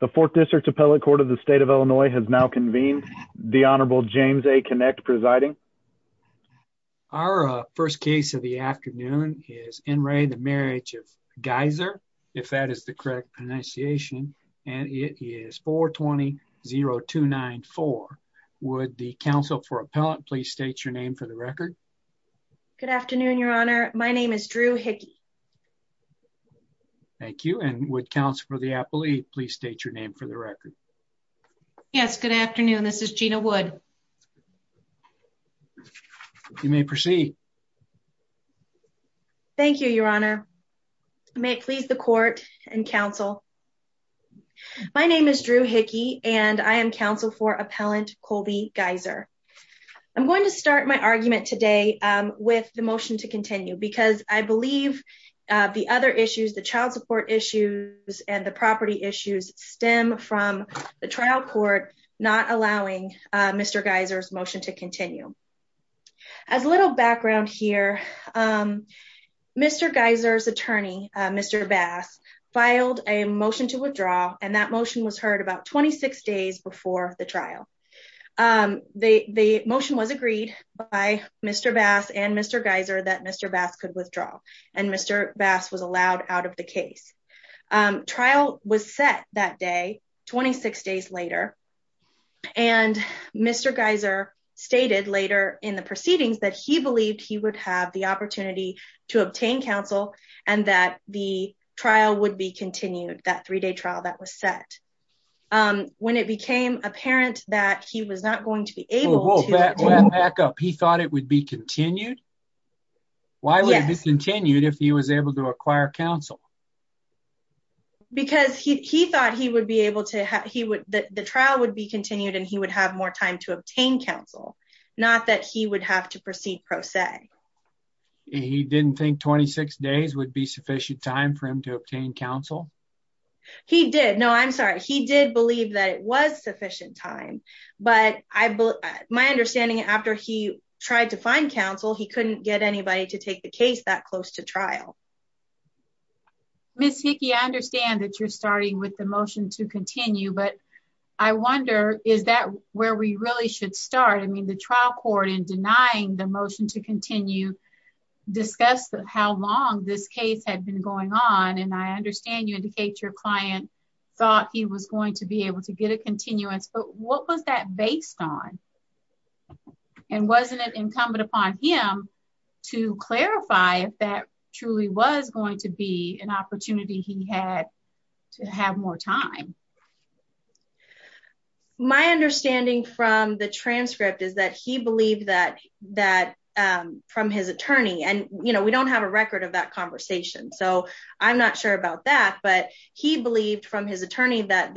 The 4th District Appellate Court of the State of Illinois has now convened. The Honorable James A. Kinect presiding. Our first case of the afternoon is N. Ray, the Marriage of Geiser, if that is the correct pronunciation, and it is 420-0294. Would the counsel for appellate please state your name for the record? Good afternoon, Your Honor. My name is Drew Hickey. Thank you, and would counsel for the appellate please state your name for the record? Yes, good afternoon. This is Gina Wood. You may proceed. Thank you, Your Honor. May it please the court and counsel. My name is Drew Hickey, and I am counsel for appellant Colby Geiser. I'm going to start my argument today with the motion to continue because I believe the other issues, the child support issues and the property issues, stem from the trial court not allowing Mr. Geiser's motion to continue. As a little background here, Mr. Geiser's attorney, Mr. Bass, filed a motion to withdraw, and that motion was heard about 26 days before the trial. The motion was agreed by Mr. Bass and Mr. Geiser that Mr. Bass could withdraw, and Mr. Bass was allowed out of the case. Trial was set that day, 26 days later, and Mr. Geiser stated later in the proceedings that he believed he would have the opportunity to obtain counsel and that the trial would be continued, that three-day trial that was set. When it became apparent that he was not going to be able to- Whoa, back up. He thought it would be continued? Why would it be continued if he was able to acquire counsel? Because he thought the trial would be continued and he would have more time to obtain counsel, not that he would have to proceed pro se. He didn't think 26 days would be sufficient time for him to obtain counsel? He did. No, I'm sorry. He did believe that it was sufficient time, but my understanding after he tried to find counsel, he couldn't get anybody to take the case that close to trial. Ms. Hickey, I understand that you're starting with the motion to continue, but I wonder, is that where we really should start? I mean, the trial court in denying the motion to continue discussed how long this case had been going on, and I understand you indicate your client thought he was going to be able to get a continuance, but what was that based on and wasn't it incumbent upon him to clarify if that truly was going to be an opportunity he had to have more time? My understanding from the transcript is that he believed that from his attorney, and we don't have a record of that conversation, so I'm not sure about that, but he believed from his attorney that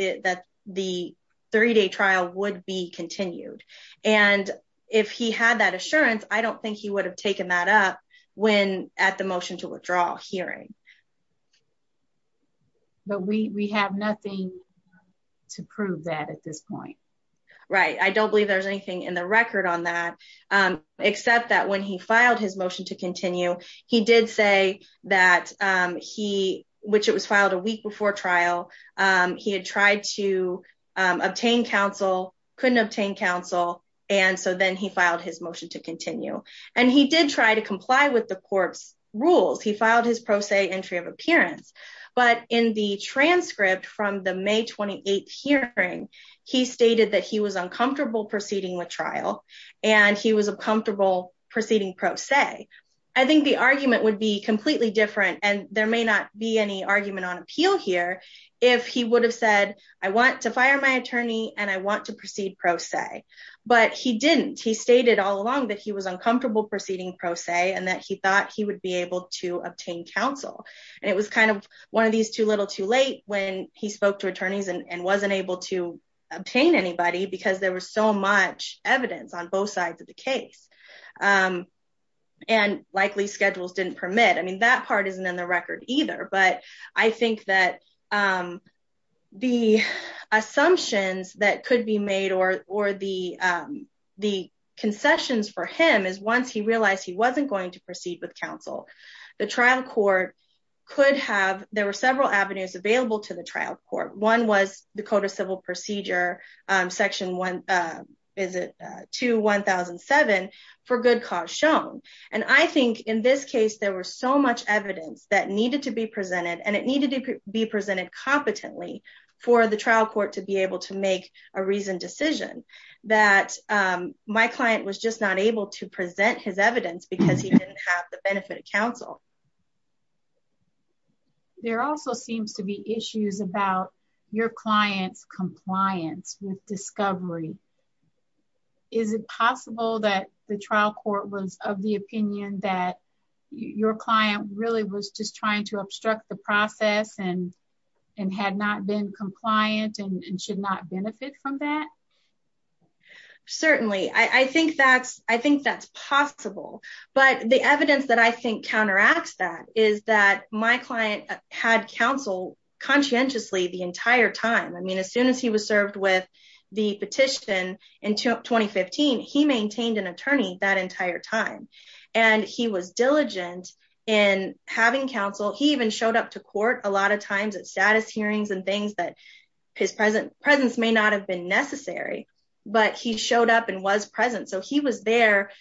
the three-day trial would be continued, and if he had that assurance, I don't think he would have taken that up when at the motion to withdraw hearing. But we have nothing to prove that at this point. Right. I don't believe there's anything in the record on that, except that when he filed his motion to continue, he did say that he, which it was filed a week before trial, he had tried to obtain counsel, couldn't obtain counsel, and so then he filed his motion to continue, and he did try to comply with the court's rules. He filed his pro se entry of appearance, but in the transcript from the May 28th hearing, he stated that he was uncomfortable proceeding with trial, and he was uncomfortable proceeding pro se. I think the argument would be completely different, and there may not be any argument on appeal here, if he would have said, I want to fire my attorney, and I want to proceed pro se, but he didn't. He stated all along that he was uncomfortable proceeding pro se, and that he thought he would be able to obtain counsel, and it was kind of one of these too little too late when he spoke to attorneys and wasn't able to obtain anybody, because there was so much evidence on both sides of the case, and likely schedules didn't permit. I mean, that part isn't in the record either, but I think that the assumptions that could be made, or the concessions for him, is once he realized he wasn't going to proceed with counsel, the trial court could have, there were several avenues available to the trial court. One was Dakota Civil Procedure Section, is it 2-1007, for good cause shown, and I think in this case, there was so much evidence that needed to be presented, and it needed to be presented competently for the trial court to be able to make a reasoned decision, that my client was just not able to present his evidence, because he didn't have the benefit of counsel. There also seems to be issues about your client's compliance with discovery. Is it possible that the trial court was of the opinion that your client really was just trying to obstruct the process, and had not been compliant, and should not benefit from that? Certainly. I think that's possible, but the evidence that I think counteracts that, is that my client had counsel conscientiously the entire time. I mean, as soon as he was served with the petition in 2015, he maintained an attorney that entire time, and he was diligent in having counsel. He even showed up to court a lot of times at status hearings and things that presence may not have been necessary, but he showed up and was present, so he was there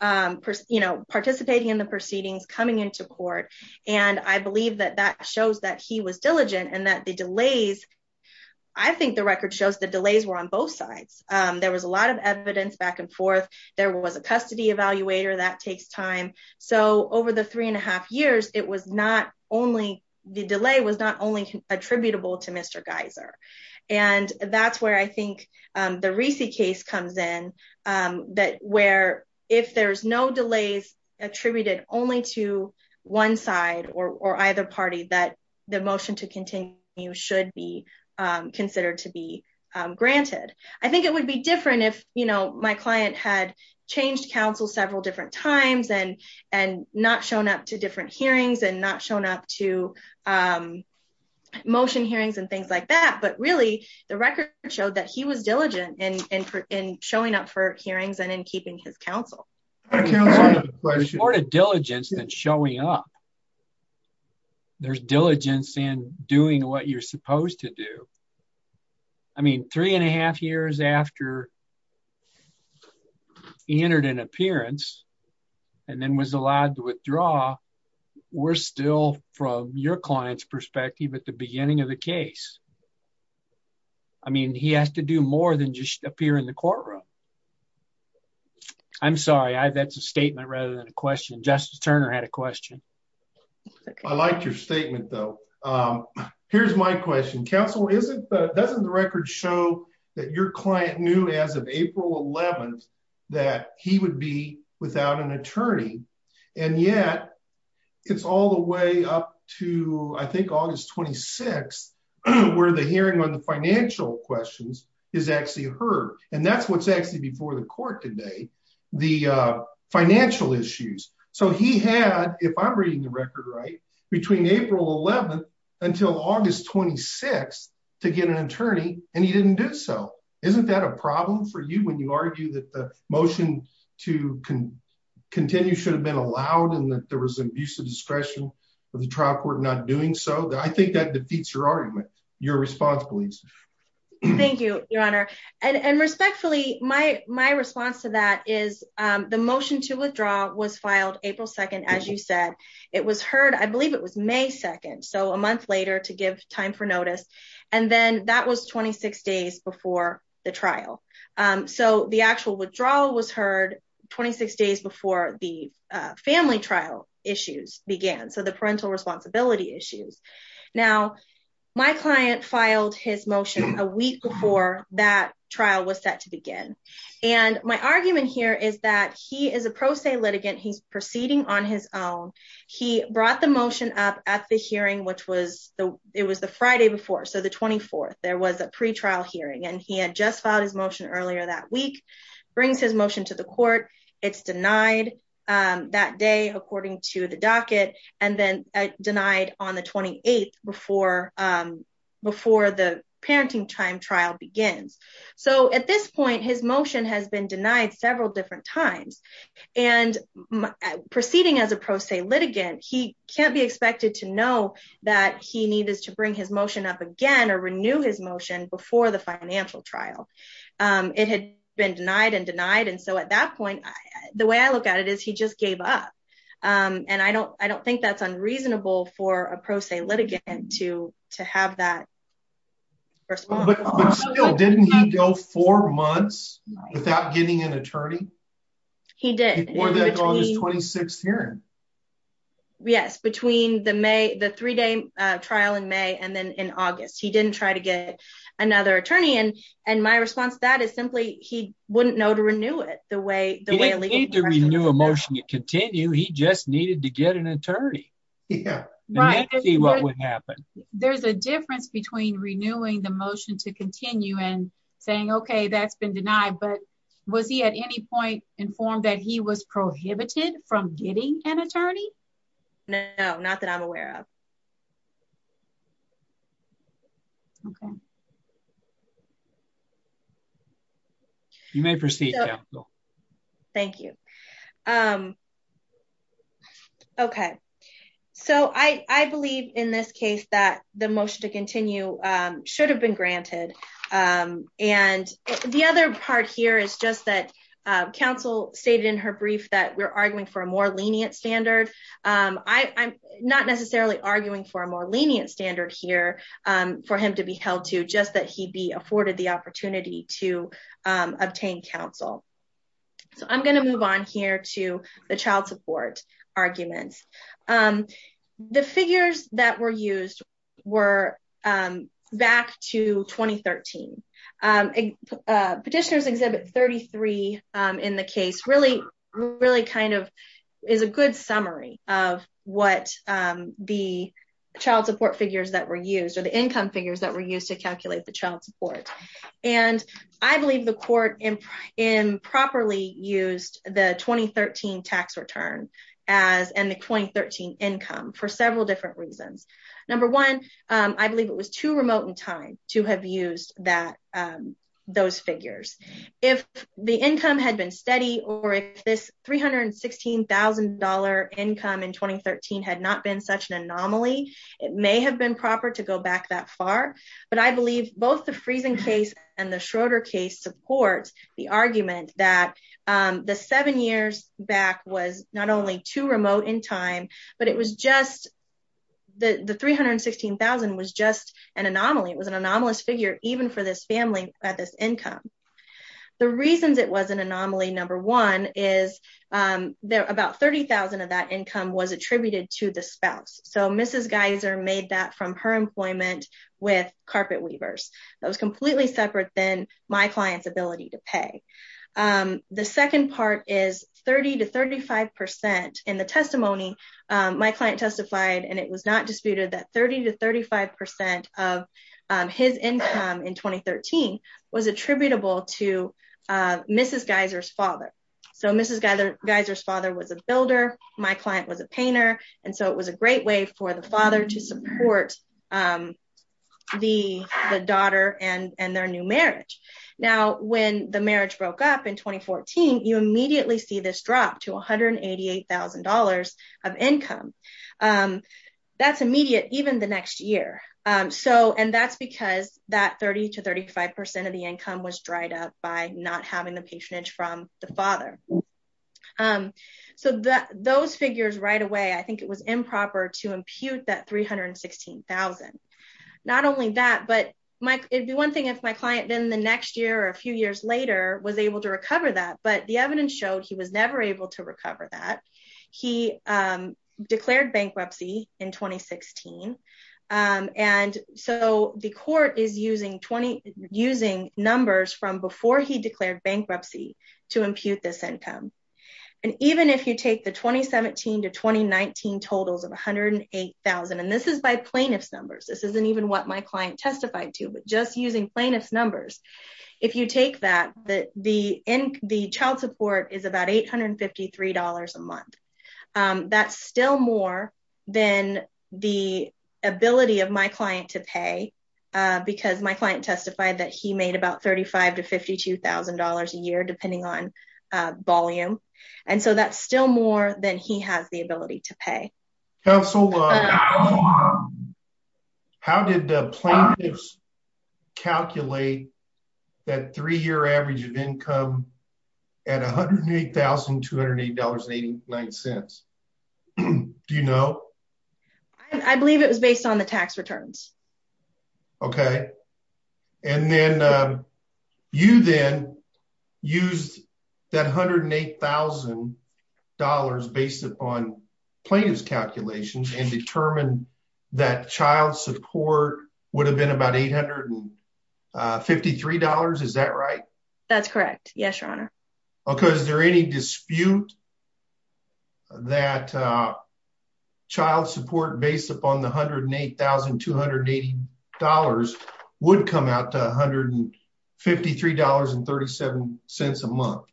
participating in the proceedings, coming into court, and I believe that that shows that he was diligent, and that the delays, I think the record shows the delays were on both sides. There was a lot of evidence back and forth. There was a custody evaluator that takes time, so over the three and a half years, the delay was not only attributable to Mr. Geiser, and that's where I think the Reesey case comes in, where if there's no delays attributed only to one side or either party, that the motion to continue should be considered to be granted. I think it would be different if my client had changed counsel several different times, and not shown up to different hearings, and not shown up to motion hearings and things like that, but really the record showed that he was diligent in showing up for hearings and in keeping his counsel. There's more to diligence than showing up. There's diligence in doing what you're supposed to do. I mean, three and a half years after he entered an appearance and then was allowed to withdraw, we're still from your client's perspective at the beginning of the case. I mean, he has to do more than just appear in the courtroom. I'm sorry, that's a statement rather than a question. Justice Turner had a question. I like your statement, though. Here's my question. Counsel, doesn't the record show that your client knew as of April 11th that he would be without an attorney, and yet it's all the way up to, I think, August 26th, where the hearing on the financial questions is actually heard, and that's what's actually before the court today, the financial issues. So he had, if I'm reading the record right, between April 11th until August 26th to get an attorney, and he didn't do so. Isn't that a problem for you when you argue that the motion to continue should have been allowed and that there was an abuse of discretion of the trial court not doing so? I think that defeats your argument. Your response, please. Thank you, Your Honor. And respectfully, my response to that is the motion to withdraw was filed April 2nd, as you said. It was heard, I believe it was May 2nd, so a month later, to give time for notice, and then that was 26 days before the trial. So the actual withdrawal was heard 26 days before the family trial issues began, so the parental responsibility issues. Now, my client filed his motion a week before that trial was set to begin, and my argument here is that he is a pro se litigant. He's proceeding on his own. He brought the motion up at the hearing, which was, it was the Friday before, so the 24th. There was a pretrial hearing, and he had just filed his motion earlier that week, brings his motion to the court. It's denied that day according to the docket, and then denied on the 28th before the parenting time trial begins. So at this point, his motion has been denied several different times, and proceeding as a pro se litigant, he can't be expected to know that he needed to bring his motion up again or renew his motion before the financial trial. It had been denied and denied, and so at that point, the way I look at it is he just gave up, and I don't think that's unreasonable for a pro se litigant to have that response. But still, didn't he go four months without getting an attorney? He did. Before that August 26th hearing. Yes, between the three-day trial in May and then in August, he didn't try to get another attorney, and my response to that is simply he wouldn't know how to renew it. He didn't need to renew a motion to continue, he just needed to get an attorney. There's a difference between renewing the motion to continue and saying, okay, that's been denied, but was he at any point informed that he was prohibited from getting an attorney? No, not that I'm aware of. Okay. You may proceed. Thank you. Okay, so I believe in this case that the motion to continue should have been granted, and the other part here is just that counsel stated in her brief that we're arguing for a more lenient standard. I'm not necessarily arguing for a more lenient standard here for him to be held to, just that he be afforded the opportunity to obtain counsel. So I'm going to move on here to the child support arguments. The figures that were used were back to 2013. Petitioner's Exhibit 33 in the case really is a good summary of what the child support figures that were used, or the income figures that were used to calculate the child support. I believe the court improperly used the 2013 tax return and the 2013 income for several different reasons. Number one, I believe it was too remote in time to have used those figures. If the income had been steady, or if this $316,000 income in 2013 had not been such an anomaly, it may have been proper to go back that far. But I believe both the Friesen case and the Schroeder case supports the argument that the anomaly, it was an anomalous figure even for this family at this income. The reasons it was an anomaly, number one, is about $30,000 of that income was attributed to the spouse. So Mrs. Geiser made that from her employment with carpet weavers. That was completely separate than my client's ability to pay. The second part is 30 to 35% in the testimony, my client testified, and it was not disputed that 30 to 35% of his income in 2013 was attributable to Mrs. Geiser's father. So Mrs. Geiser's father was a builder, my client was a painter, and so it was a great way for the father to support the daughter and their new marriage. Now when the marriage broke up in 2014, you immediately see this drop to $188,000 of income. That's immediate even the next year. And that's because that 30 to 35% of the income was dried up by not having the patronage from the father. So those figures right away, I think it was improper to impute that $316,000. Not only that, but it'd be one thing if my client then the next year or a few years later was able to recover that, but the evidence showed he was never able to recover that. He declared bankruptcy in 2016, and so the court is using numbers from before he declared bankruptcy to impute this income. And even if you take the 2017 to 2019 totals of $108,000, and this is by plaintiff's numbers, this isn't even what my client testified to, but just using plaintiff's numbers, if you take that, the child support is about $853 a month. That's still more than the ability of my client to pay because my client testified that he made about $35,000 to $52,000 a year depending on volume. And so that's still more than he has the ability to pay. Counsel, how did plaintiffs calculate that three-year average of income at $108,280.89? Do you know? I believe it was based on the tax returns. Okay. And then you then used that $108,000 based upon plaintiff's calculations and determined that child support would have been about $853. Is that right? That's correct. Yes, Your Honor. Okay. Is there any dispute that child support based upon the $108,280 would come out to $153.37 a month?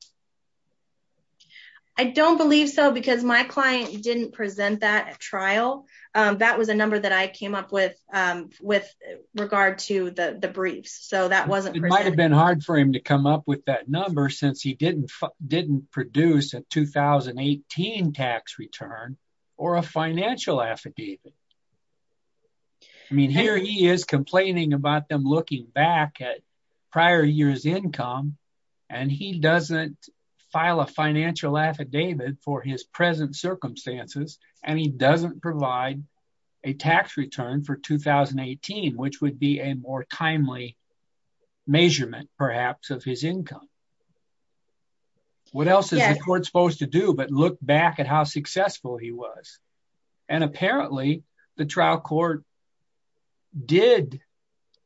I don't believe so because my client didn't present that at trial. That was a number that I came up with with regard to the briefs. It might have been hard for him to come up with that number since he didn't produce a 2018 tax return or a financial affidavit. I mean, here he is complaining about them looking back at prior year's income and he doesn't file a financial affidavit for his present circumstances and he doesn't provide a tax return for 2018 which would be a more timely measurement perhaps of his income. What else is the court supposed to do but look back at how successful he was? And apparently the trial court did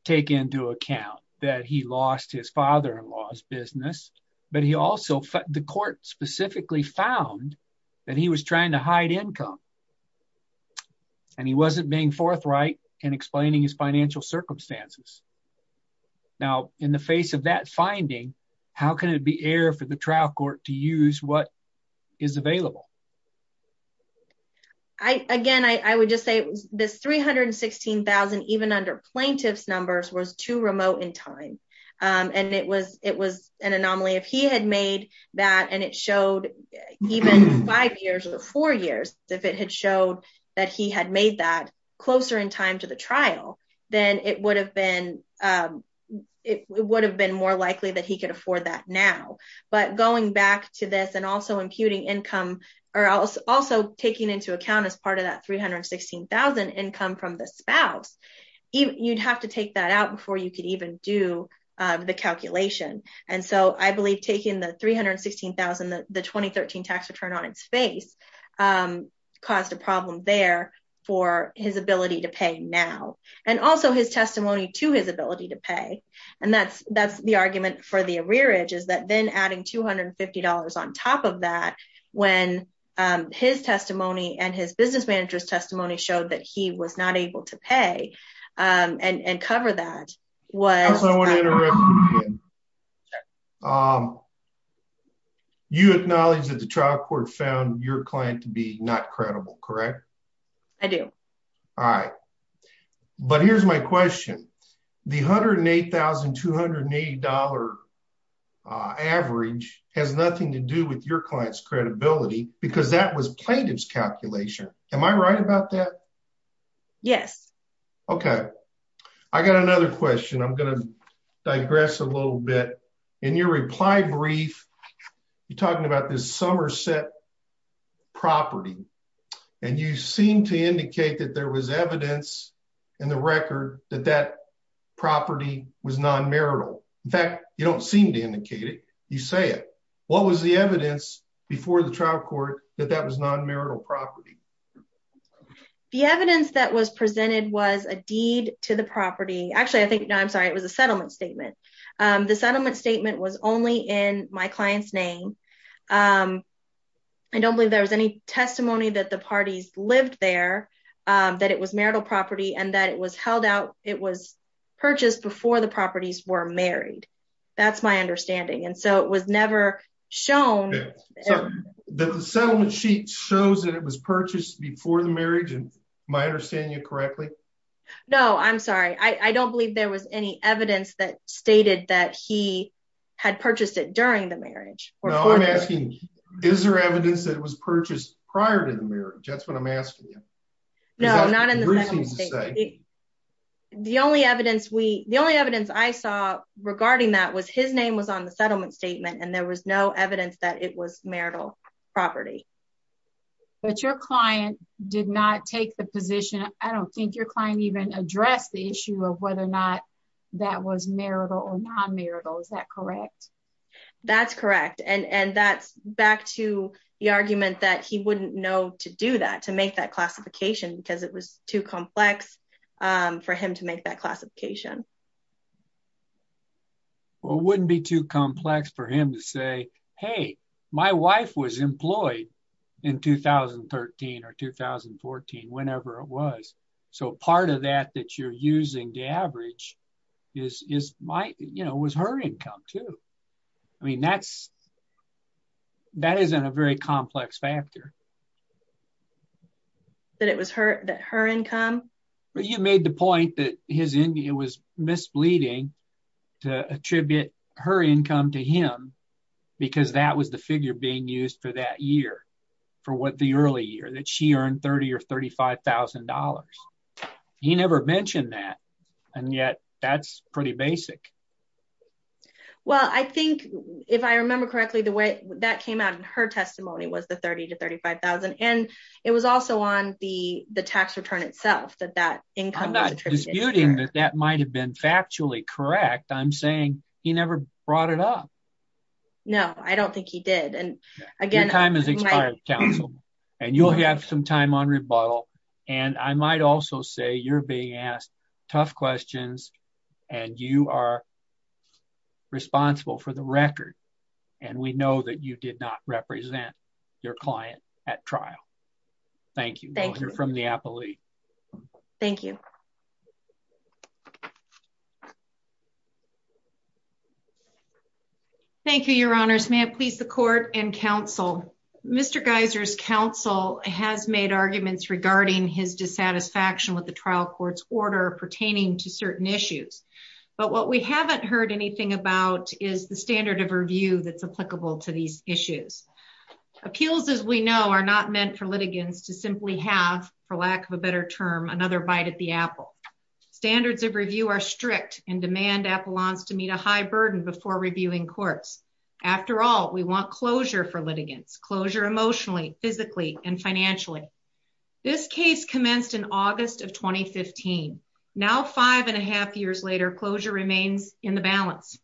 take into account that he lost his father-in-law's business but he also, the court specifically found that he was trying to hide income and he wasn't being forthright in explaining his financial circumstances. Now in the face of that finding, how can it be error for the trial court to use what is available? Again, I would just say this $316,000 even under plaintiff's numbers was too remote in time and it was an anomaly. If he had made that and it showed even five years or four years, if it had showed that he had made that closer in time to the trial, then it would have been it would have been more likely that he could afford that now. But going back to this and also imputing income or also taking into account as part of that $316,000 income from the spouse, you'd have to take that out before you could even do the calculation. And so I believe taking the $316,000, the 2013 tax return on its face caused a problem there for his ability to pay now. And also his testimony to his ability to pay and that's that's the argument for the arrearage is that then adding $250 on top of that when his testimony and his business manager's testimony showed that he was not able to pay and cover that. I want to interrupt you again. You acknowledge that the trial court found your client to be not credible, correct? I do. All right. But here's my question. The $108,280 average has nothing to do with your client's credibility because that was plaintiff's calculation. Am I right about that? Yes. Okay. I got another question. I'm going to digress a little bit. In your reply brief, you're talking about this Somerset property and you seem to indicate that there was evidence in the record that that property was non-marital. In fact, you don't seem to indicate it. You say it. What was the evidence before the trial court that that was non-marital property? The evidence that was presented was a deed to the property. Actually, I think, I'm sorry, it was a settlement statement. The settlement statement was only in my client's name. I don't believe there was any testimony that the parties lived there, that it was marital property and that it was purchased before the properties were married. That's my understanding. And so it was never shown. The settlement sheet shows that it was purchased before the marriage, am I understanding you correctly? No, I'm sorry. I don't believe there was any evidence that stated that he had purchased it during the marriage. No, I'm asking, is there evidence that it was purchased prior to the marriage? That's what I'm asking you. No, not in the settlement statement. The only evidence I saw regarding that was his name was on the settlement statement and there was no evidence that it was marital property. But your client did not take the position, I don't think your client even addressed the issue of whether or not that was marital or non-marital, is that correct? That's correct. And that's back to the argument that he wouldn't know to do that, to make that classification, because it was too complex for him to make that classification. Well, it wouldn't be too complex for him to say, hey, my wife was employed in 2013 or 2014, whenever it was. So part of that that you're using to average is her income too. I mean, that isn't a very complex factor. That it was her income? You made the point that it was misleading to attribute her income to him because that was the figure being used for that year, for what the early year that she earned 30 or $35,000. He never mentioned that. And yet, that's pretty basic. Well, I think if I remember correctly, the way that came out in her testimony was the 30 to 35,000. And it was also on the tax return itself that that income was attributed. That might have been factually correct. I'm saying he never brought it up. No, I don't think he did. Your time has expired, counsel, and you'll have some time on rebuttal. And I might also say you're being asked tough questions and you are responsible for the record. And we know that you did not represent your client at trial. Thank you. Thank you. Thank you. Thank you, your honors. May I please the court and counsel. Mr. Geiser's counsel has made arguments regarding his dissatisfaction with the trial court's order pertaining to certain issues. But what we haven't heard anything about is the standard of review that's applicable to these issues. Appeals, as we know, are not meant for litigants to simply have, for lack of a better term, another bite at the apple. Standards of review are strict and demand appellants to meet a high burden before reviewing courts. After all, we want closure for litigants, closure emotionally, physically, and financially. This case commenced in August of 2015. Now five and a half years later, remains in the balance.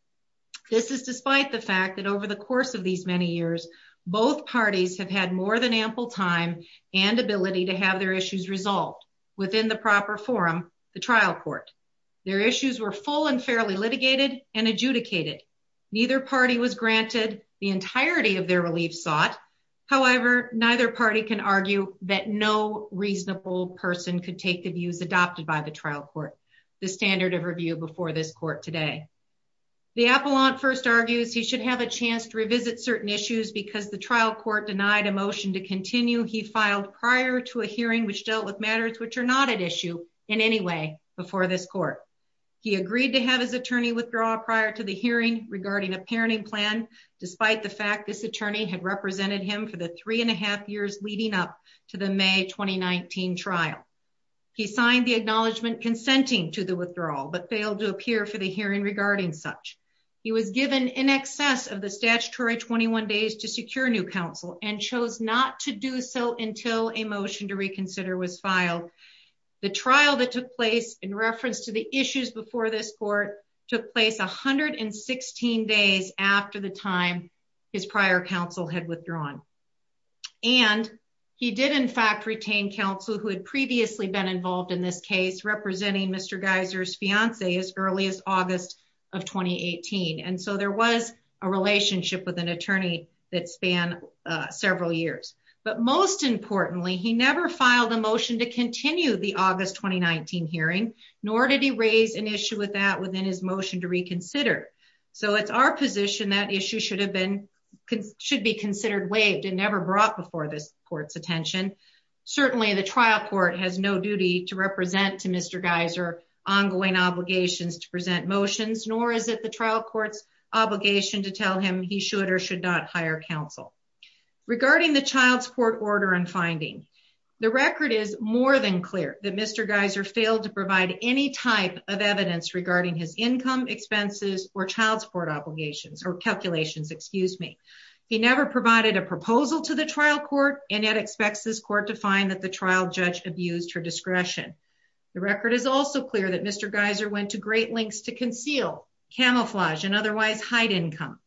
This is despite the fact that over the course of these many years, both parties have had more than ample time and ability to have their issues resolved within the proper forum, the trial court. Their issues were full and fairly litigated and adjudicated. Neither party was granted the entirety of their relief sought. However, neither party can argue that no reasonable person could take the views adopted by the trial court. The standard of review before this court today. The appellant first argues he should have a chance to revisit certain issues because the trial court denied a motion to continue. He filed prior to a hearing which dealt with matters which are not at issue in any way before this court. He agreed to have his attorney withdraw prior to the hearing regarding a parenting plan, despite the fact this attorney had represented him for the three and a half years leading up to the May 2019 trial. He signed the acknowledgement consenting to the withdrawal but failed to appear for the hearing regarding such. He was given in excess of the statutory 21 days to secure new counsel and chose not to do so until a motion to reconsider was filed. The trial that took place in reference to the issues before this court took place 116 days after the time his prior counsel had withdrawn. And he did in fact retain counsel who had previously been involved in this case representing Mr. Geiser's fiancee as early as August of 2018. And so there was a relationship with an attorney that spanned several years. But most importantly, he never filed a motion to continue the August 2019 hearing, nor did he raise an issue with that within his motion to reconsider. So it's our position that issue should be considered waived and never brought before this court's attention. Certainly the trial court has no duty to represent to Mr. Geiser ongoing obligations to present motions, nor is it the trial court's obligation to tell him he should or should not hire counsel. Regarding the child support order and finding, the record is more than child support obligations or calculations, excuse me. He never provided a proposal to the trial court and yet expects this court to find that the trial judge abused her discretion. The record is also clear that Mr. Geiser went to great lengths to conceal, camouflage, and otherwise hide income.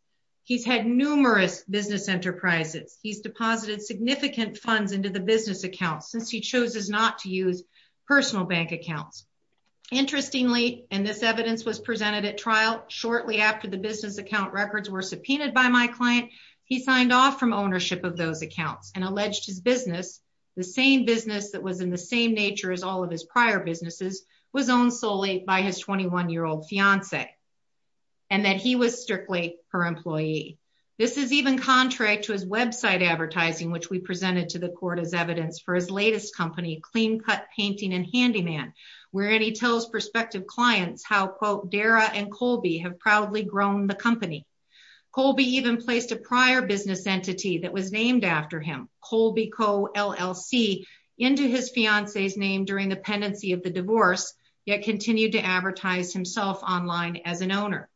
He's had numerous business enterprises. He's deposited significant funds into the business accounts since he chose not to use personal bank accounts. Interestingly, and this evidence was shortly after the business account records were subpoenaed by my client, he signed off from ownership of those accounts and alleged his business, the same business that was in the same nature as all of his prior businesses, was owned solely by his 21-year-old fiance and that he was strictly her employee. This is even contrary to his website advertising, which we presented to the court as evidence for his latest company, Clean Cut Painting and have proudly grown the company. Colby even placed a prior business entity that was named after him, Colby Co LLC, into his fiance's name during the pendency of the divorce, yet continued to advertise himself online as an owner.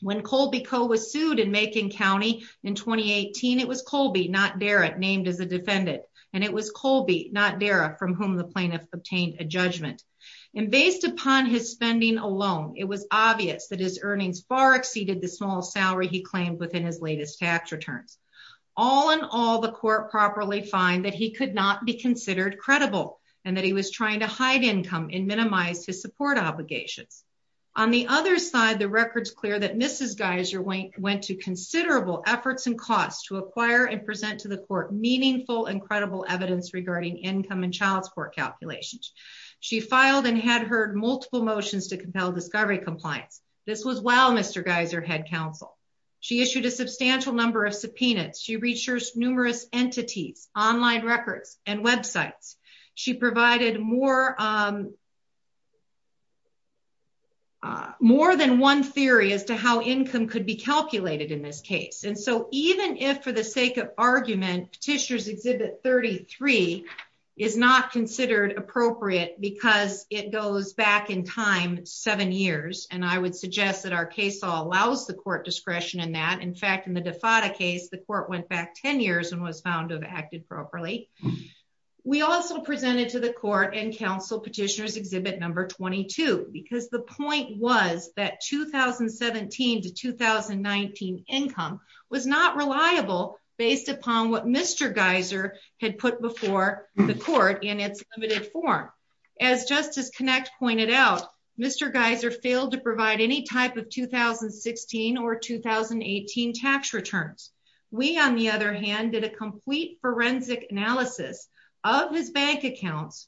When Colby Co was sued in Macon County in 2018, it was Colby, not Derrick, named as a defendant and it was Colby, not Derrick, from whom the plaintiff obtained a earnings far exceeded the small salary he claimed within his latest tax returns. All in all, the court properly find that he could not be considered credible and that he was trying to hide income and minimize his support obligations. On the other side, the record's clear that Mrs. Geiser went to considerable efforts and costs to acquire and present to the court meaningful and credible evidence regarding income and child support calculations. She filed and had heard multiple motions to compel discovery compliance. This was while Mr. Geiser had counsel. She issued a substantial number of subpoenas. She reached numerous entities, online records, and websites. She provided more than one theory as to how income could be calculated in this case. And so, even if for the sake of argument, Petitioner's Exhibit 33 is not considered appropriate because it goes back in time seven years. And I would suggest that our case law allows the court discretion in that. In fact, in the DeFatta case, the court went back 10 years and was found to have acted properly. We also presented to the court and counsel Petitioner's Exhibit number 22, because the point was that 2017 to 2019 income was not reliable based upon what Mr. Geiser had put before the court in its limited form. As Justice Knacht pointed out, Mr. Geiser failed to provide any type of 2016 or 2018 tax returns. We, on the other hand, did a complete forensic analysis of his bank accounts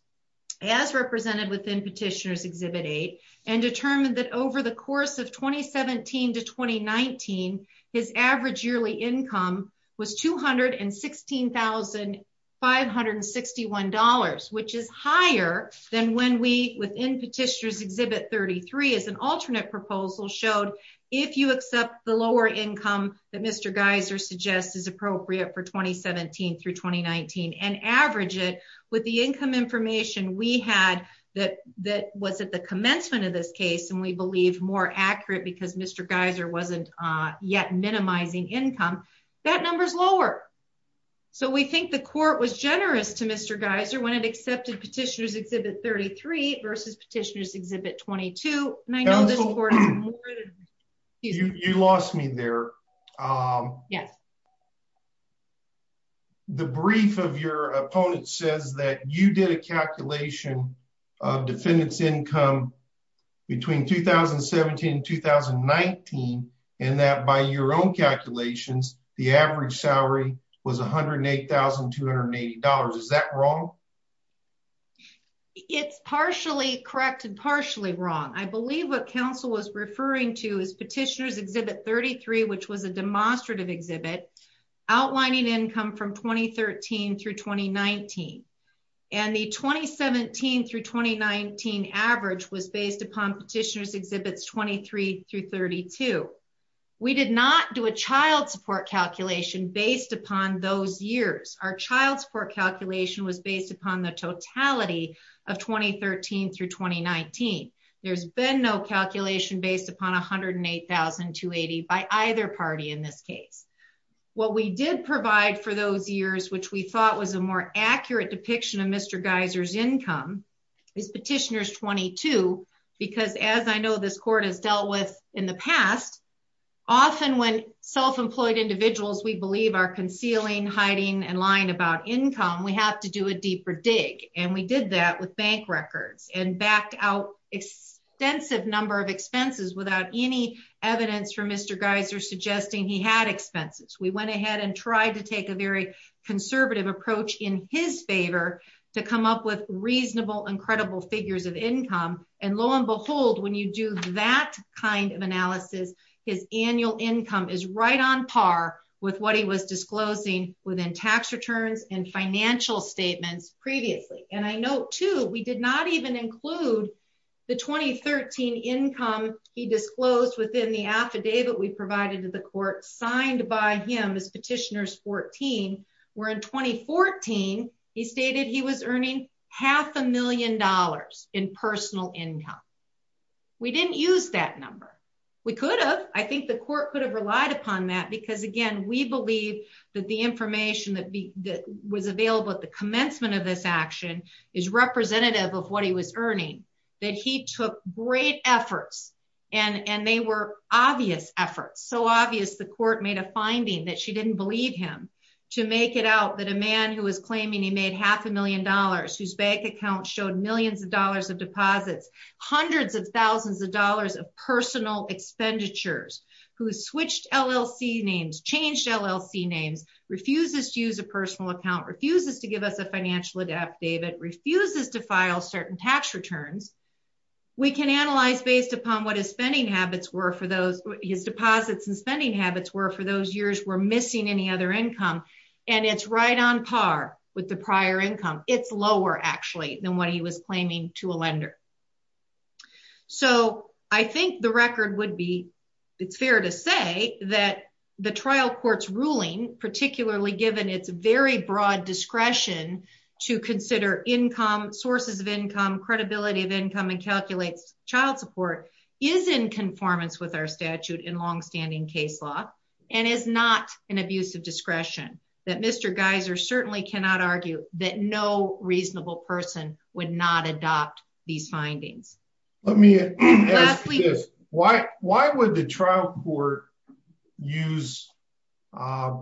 as represented within Petitioner's Exhibit 8 and determined that over course of 2017 to 2019, his average yearly income was $216,561, which is higher than when we, within Petitioner's Exhibit 33, as an alternate proposal, showed if you accept the lower income that Mr. Geiser suggests is appropriate for 2017 through 2019 and average it with the income information we had that was at the commencement of this case and we believe more accurate because Mr. Geiser wasn't yet minimizing income, that number's lower. So we think the court was generous to Mr. Geiser when it accepted Petitioner's Exhibit 33 versus Petitioner's Exhibit 22. Counsel, you lost me there. The brief of your opponent says that you did a calculation of defendant's income between 2017 and 2019 and that by your own calculations, the average salary was $108,280. Is that wrong? It's partially correct and partially wrong. I believe what counsel was referring to is Petitioner's Exhibit 33, which was a demonstrative exhibit, outlining income from 2013 through 2019, and the 2017 through 2019 average was based upon Petitioner's Exhibits 23 through 32. We did not do a child support calculation based upon those years. Our child support calculation was based upon the totality of 2013 through 2019. There's been no calculation based upon $108,280 by either party in this case. What we did provide for those years, which we thought was a more accurate depiction of Mr. Geiser's income, is Petitioner's Exhibit 22 because as I know this court has dealt with in the past, often when self-employed individuals we believe are concealing, hiding, and lying about income, we have to do a deeper dig and we did that with bank records and backed out extensive number of expenses without any evidence for Mr. Geiser suggesting he had expenses. We went ahead and tried to take a very conservative approach in his favor to come up with reasonable and credible figures of income and lo and behold when you do that kind of analysis, his annual income is right on par with what he was disclosing within tax returns and financial statements previously. And I note too we did not even include the 2013 income he disclosed within the affidavit we provided to the court signed by him as Petitioner's 14, where in 2014 he stated he was earning half a million dollars in personal income. We didn't use that number. We could have. I think the court could have relied upon that because again we believe that the information that was available at the commencement of this action is representative of what he was earning, that he took great efforts and they were obvious efforts, so obvious the court made a finding that she didn't believe him to make it out that a man who was claiming he made half a million dollars, whose bank account showed millions of dollars of deposits, hundreds of thousands of dollars of personal expenditures, who switched LLC names, changed LLC names, refuses to use a personal account, refuses to give us a financial affidavit, refuses to file certain tax returns, we can analyze based upon what his spending habits were for those his deposits and spending habits were for those years were missing any other income and it's right on par with the prior income. It's lower actually than what he was claiming to a lender. So I think the record would be it's fair to say that the trial court's ruling, particularly given its very broad discretion to consider income, sources of income, credibility of income and calculates child support, is in conformance with our statute in long-standing case law and is not an abuse of discretion that Mr. Geiser certainly cannot argue that no reasonable person would not adopt these findings. Let me ask you this, why would the trial court use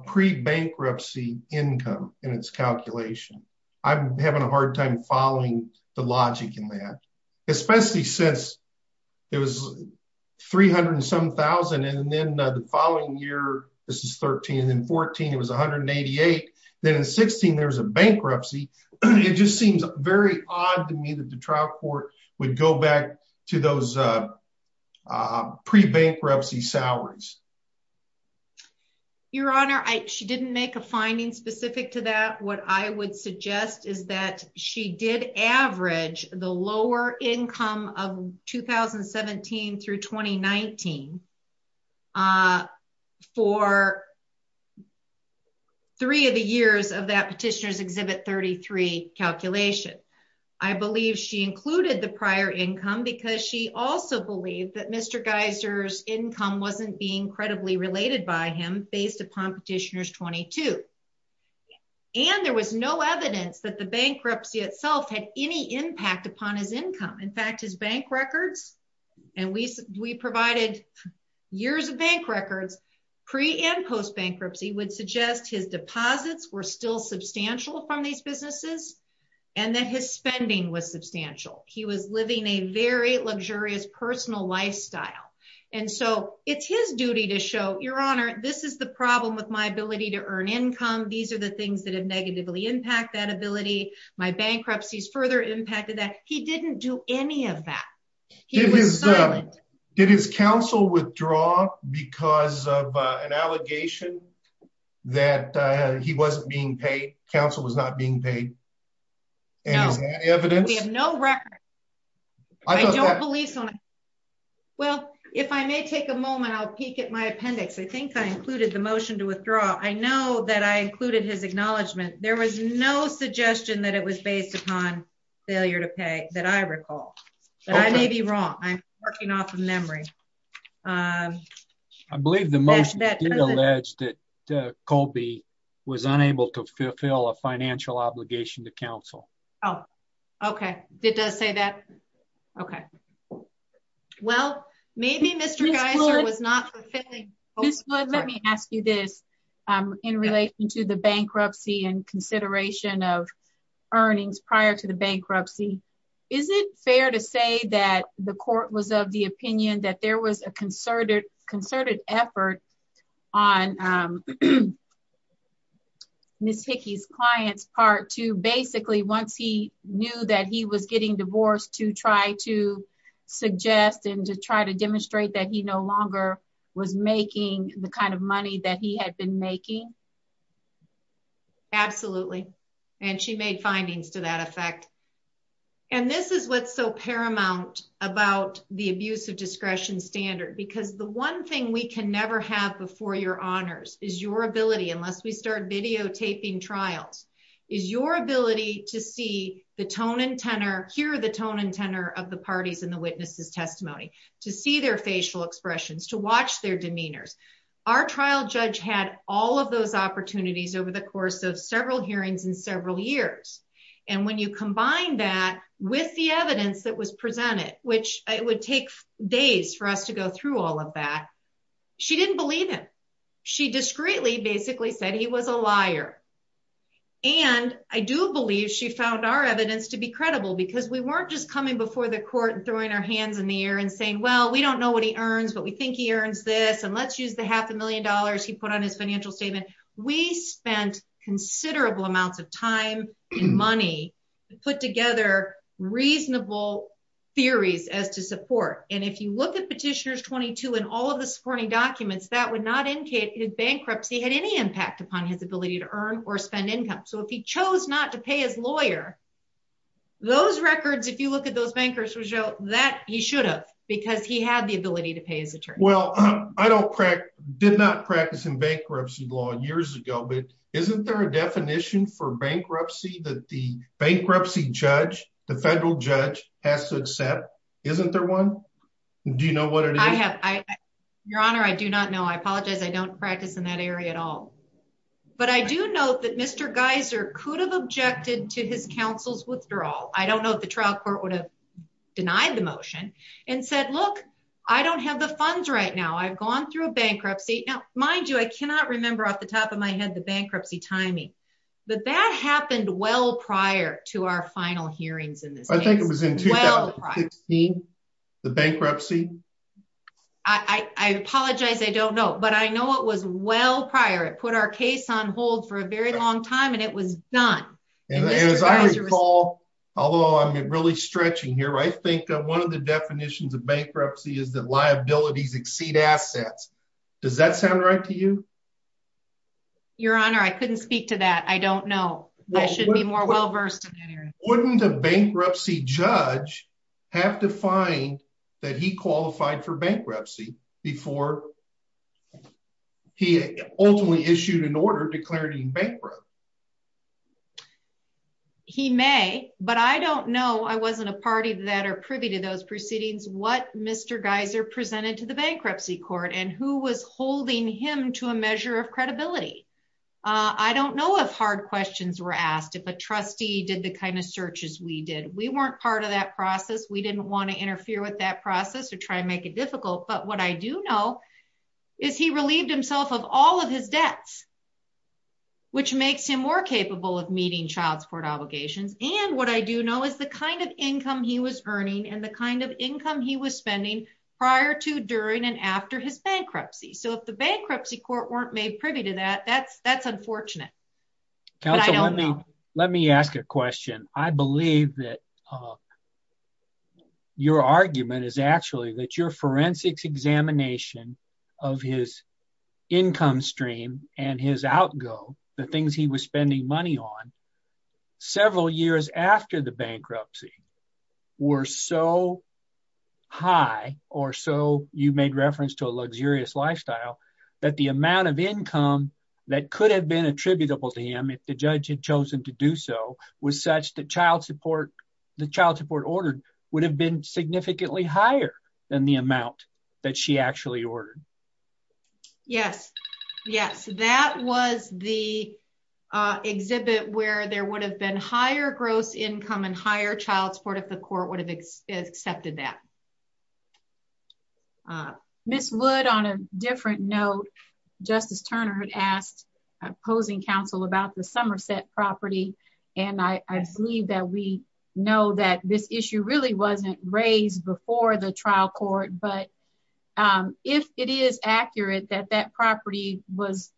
pre-bankruptcy income in its calculation? I'm having a hard time following the logic in that, especially since it was $307,000 and then the following year, this is 13 and then 14, it was $188,000. Then in 16, there was a bankruptcy. It just seems very odd to me that the trial court would go back to those pre-bankruptcy salaries. Your Honor, she didn't make a finding specific to that. What I would suggest is that she did average the lower income of 2017 through 2019 for three of the years of that Petitioner's Exhibit 33 calculation. I believe she included the prior income because she also believed that Mr. Geiser's income wasn't being credibly related by him based upon Petitioner's 22. And there was no evidence that the bankruptcy itself had any impact upon his income. In fact, his bank records, and we provided years of bank records, pre and post-bankruptcy would suggest his deposits were still substantial from these businesses and that his spending was substantial. He was living a very luxurious personal lifestyle. And so it's his duty to show, Your Honor, this is the problem with my ability to earn income. These are the things that have negatively impacted that ability. My bankruptcies further impacted that. He didn't do any of that. He was silent. Did his counsel withdraw because of an allegation that he wasn't being paid? Counsel was not being paid? No. And is there any evidence? We have no record. I don't believe so. Well, if I may take a moment, I'll peek at my appendix. I think I included the motion to withdraw. I know that I included his acknowledgement. There was no suggestion that it was based upon failure to pay that I recall. I may be wrong. I'm working off of memory. I believe the motion alleged that Colby was unable to fulfill a financial obligation to counsel. Oh, okay. It does say that. Okay. Well, maybe Mr. Geiser was not fulfilling. Let me ask you this in relation to the bankruptcy and consideration of earnings prior to the bankruptcy. Is it fair to say that the court was of the opinion that there was a concerted effort on Ms. Hickey's client's part to basically once he knew that he was getting divorced to try to suggest and to try to demonstrate that he no longer was making the kind of money that he had been making? Absolutely. And she made findings to that effect. And this is what's so paramount about the abuse of discretion standard, because the one thing we can never have before your honors is your ability, unless we start videotaping trials, is your ability to see the tone and tenor, hear the tone and tenor of the parties in the witness's testimony, to see their facial expressions, to watch their demeanors. Our trial judge had all of those opportunities over the course of several hearings in several years. And when you combine that with the evidence that was presented, which it would take days for us to go through all of that, she didn't believe him. She discreetly basically said he was a liar. And I do believe she found our evidence to be credible because we weren't just coming before the court and throwing our hands in the air and saying, well, we don't know what he earns, but we think he earns this. And let's use the half a million dollars he put on his financial statement. We spent considerable amounts of time and money to put together reasonable theories as to support. And if you look at Petitioners 22 and all of the supporting documents, that would not indicate if bankruptcy had any impact upon his ability to earn or spend income. So if he chose not to pay his lawyer, those records, if you look at those bankers, would show that he should have, because he had the ability to pay his attorney. Well, I did not practice in bankruptcy law years ago, but isn't there a that the bankruptcy judge, the federal judge has to accept? Isn't there one? Do you know what it is? Your Honor, I do not know. I apologize. I don't practice in that area at all. But I do know that Mr. Geiser could have objected to his counsel's withdrawal. I don't know if the trial court would have denied the motion and said, look, I don't have the funds right now. I've gone through a bankruptcy. Now, mind you, I cannot remember off the top of my head, the bankruptcy timing, but that happened well prior to our final hearings in this. I think it was in 2016, the bankruptcy. I apologize. I don't know. But I know it was well prior. It put our case on hold for a very long time and it was done. As I recall, although I'm really stretching here, I think one of the definitions of bankruptcy is liabilities exceed assets. Does that sound right to you? Your Honor, I couldn't speak to that. I don't know. I should be more well-versed. Wouldn't a bankruptcy judge have to find that he qualified for bankruptcy before he ultimately issued an order declaring bankruptcy? He may, but I don't know. I wasn't a party that are privy to those proceedings. What Mr. Geiser presented to the bankruptcy court and who was holding him to a measure of credibility. I don't know if hard questions were asked, if a trustee did the kind of searches we did. We weren't part of that process. We didn't want to interfere with that process or try and make it difficult. But what I do know is he relieved himself of all of his debts, which makes him more capable of meeting child support obligations. What I do know is the kind of income he was earning and the kind of income he was spending prior to, during and after his bankruptcy. If the bankruptcy court weren't made privy to that, that's unfortunate. Let me ask a question. I believe that your argument is actually that your forensics examination of his income stream and his outgo, the things he was spending money on, several years after the bankruptcy were so high, or so you made reference to a luxurious lifestyle, that the amount of income that could have been attributable to him, if the judge had chosen to do so, was such that the child support ordered would have been significantly higher than the amount that she actually ordered. Yes. Yes. That was the exhibit where there would have been higher gross income and higher child support if the court would have accepted that. Ms. Wood, on a different note, Justice Turner had asked opposing counsel about the Somerset property. And I believe that we know that this issue really wasn't raised before the trial court, but if it is accurate that that property was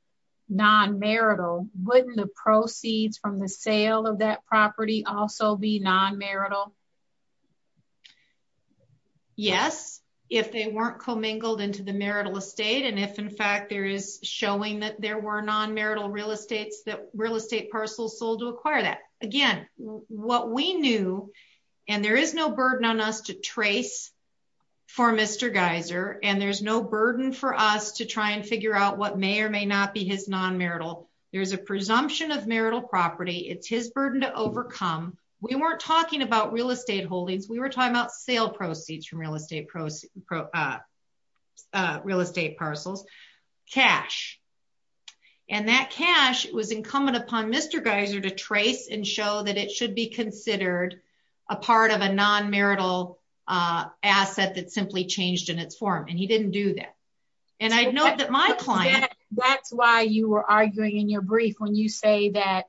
non-marital, wouldn't the proceeds from the sale of that property also be non-marital? Yes, if they weren't commingled into the marital estate. And if in fact, there is showing that there were non-marital real estates that real estate parcels sold to acquire that. Again, what we knew, and there is no burden on us to trace for Mr. Geiser, and there's no burden for us to try and figure out what may or may not be his non-marital. There's a presumption of marital property. It's his burden to overcome. We weren't talking about real estate holdings. We were talking about sale proceeds from real estate, real estate parcels, cash. And that cash was incumbent upon Mr. Geiser to trace and show that it should be considered a part of a non-marital asset that simply changed in its form. And he didn't do that. And I know that my client... That's why you were arguing in your brief when you say that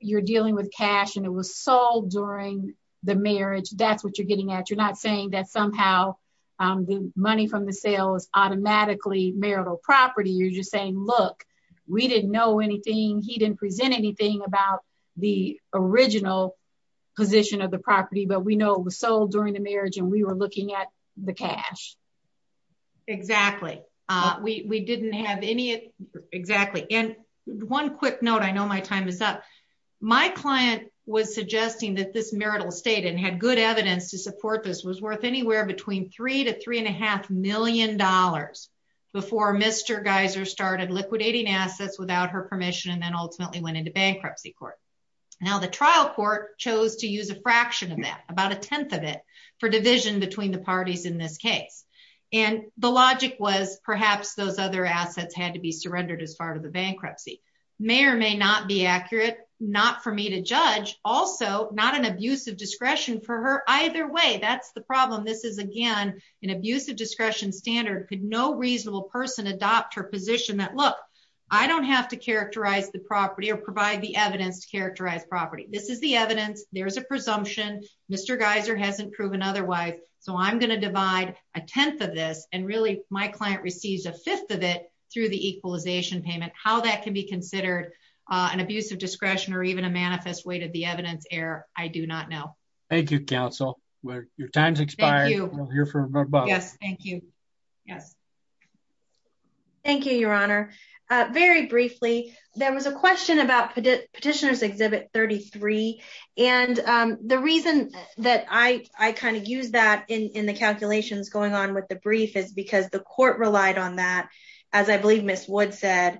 you're dealing with cash and it was sold during the marriage. That's what you're getting at. You're not saying that somehow the money from the sale is automatically marital property. You're just saying, look, we didn't know anything. He didn't present anything about the original position of the property, but we know it was sold during the marriage, and we were looking at the cash. Exactly. We didn't have any... Exactly. And one quick note, I know my time is up. My client was suggesting that this marital estate, and had good evidence to support this, was worth anywhere between three to three and a half million dollars before Mr. Geiser started liquidating assets without her permission and then ultimately went into bankruptcy court. Now, the trial court chose to use a fraction of that, about a tenth of it, for division between the parties in this case. And the logic was perhaps those other assets had to be surrendered as part of the bankruptcy. May or may not be accurate, not for me to judge. Also, not an abuse of discretion for her either way. That's the problem. This is, again, an abuse of discretion standard. Could no reasonable person adopt her position that, look, I don't have to characterize the property or provide the evidence to characterize property. This is the evidence. There's a presumption. Mr. Geiser hasn't proven otherwise, so I'm going to divide a tenth of this, and really my client receives a fifth of it through the equalization payment. How that can be considered an abuse of discretion or even a manifest weight of the Yes, thank you. Yes. Thank you, Your Honor. Very briefly, there was a question about Petitioner's Exhibit 33, and the reason that I kind of used that in the calculations going on with the brief is because the court relied on that, as I believe Ms. Wood said,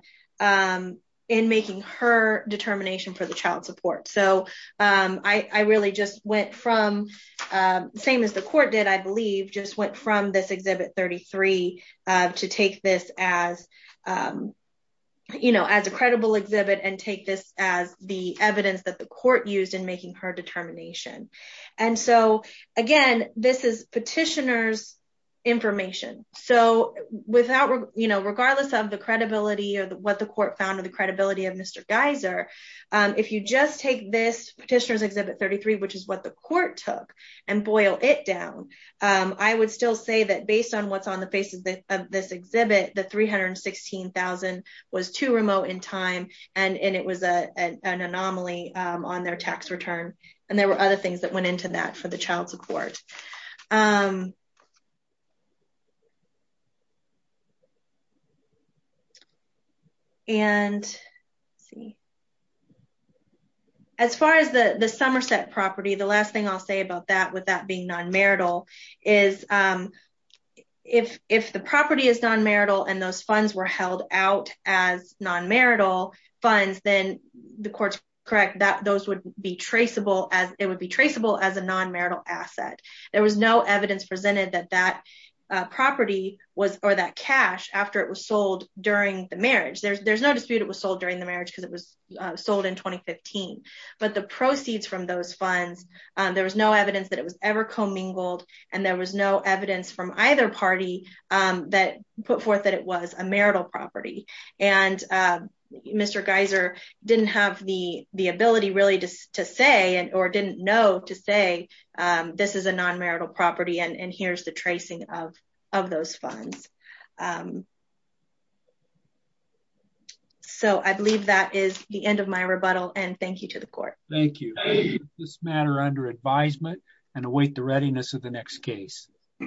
in making her determination for from this Exhibit 33 to take this as, you know, as a credible exhibit and take this as the evidence that the court used in making her determination. And so, again, this is Petitioner's information. So, without, you know, regardless of the credibility or what the court found or the credibility of Mr. Geiser, if you just take this Petitioner's Exhibit 33, which is what the say that based on what's on the basis of this exhibit, the $316,000 was too remote in time, and it was an anomaly on their tax return. And there were other things that went into that for the child support. And let's see. As far as the Somerset property, the last thing I'll say with that being non-marital is if the property is non-marital and those funds were held out as non-marital funds, then the court's correct that those would be traceable as a non-marital asset. There was no evidence presented that that property was, or that cash, after it was sold during the marriage. There's no dispute it was sold during the marriage because it was ever commingled and there was no evidence from either party that put forth that it was a marital property. And Mr. Geiser didn't have the ability really to say, or didn't know to say, this is a non-marital property and here's the tracing of those funds. So, I believe that is the end of my rebuttal and thank you to the court. Thank you. This matter under advisement and await the readiness of the next case.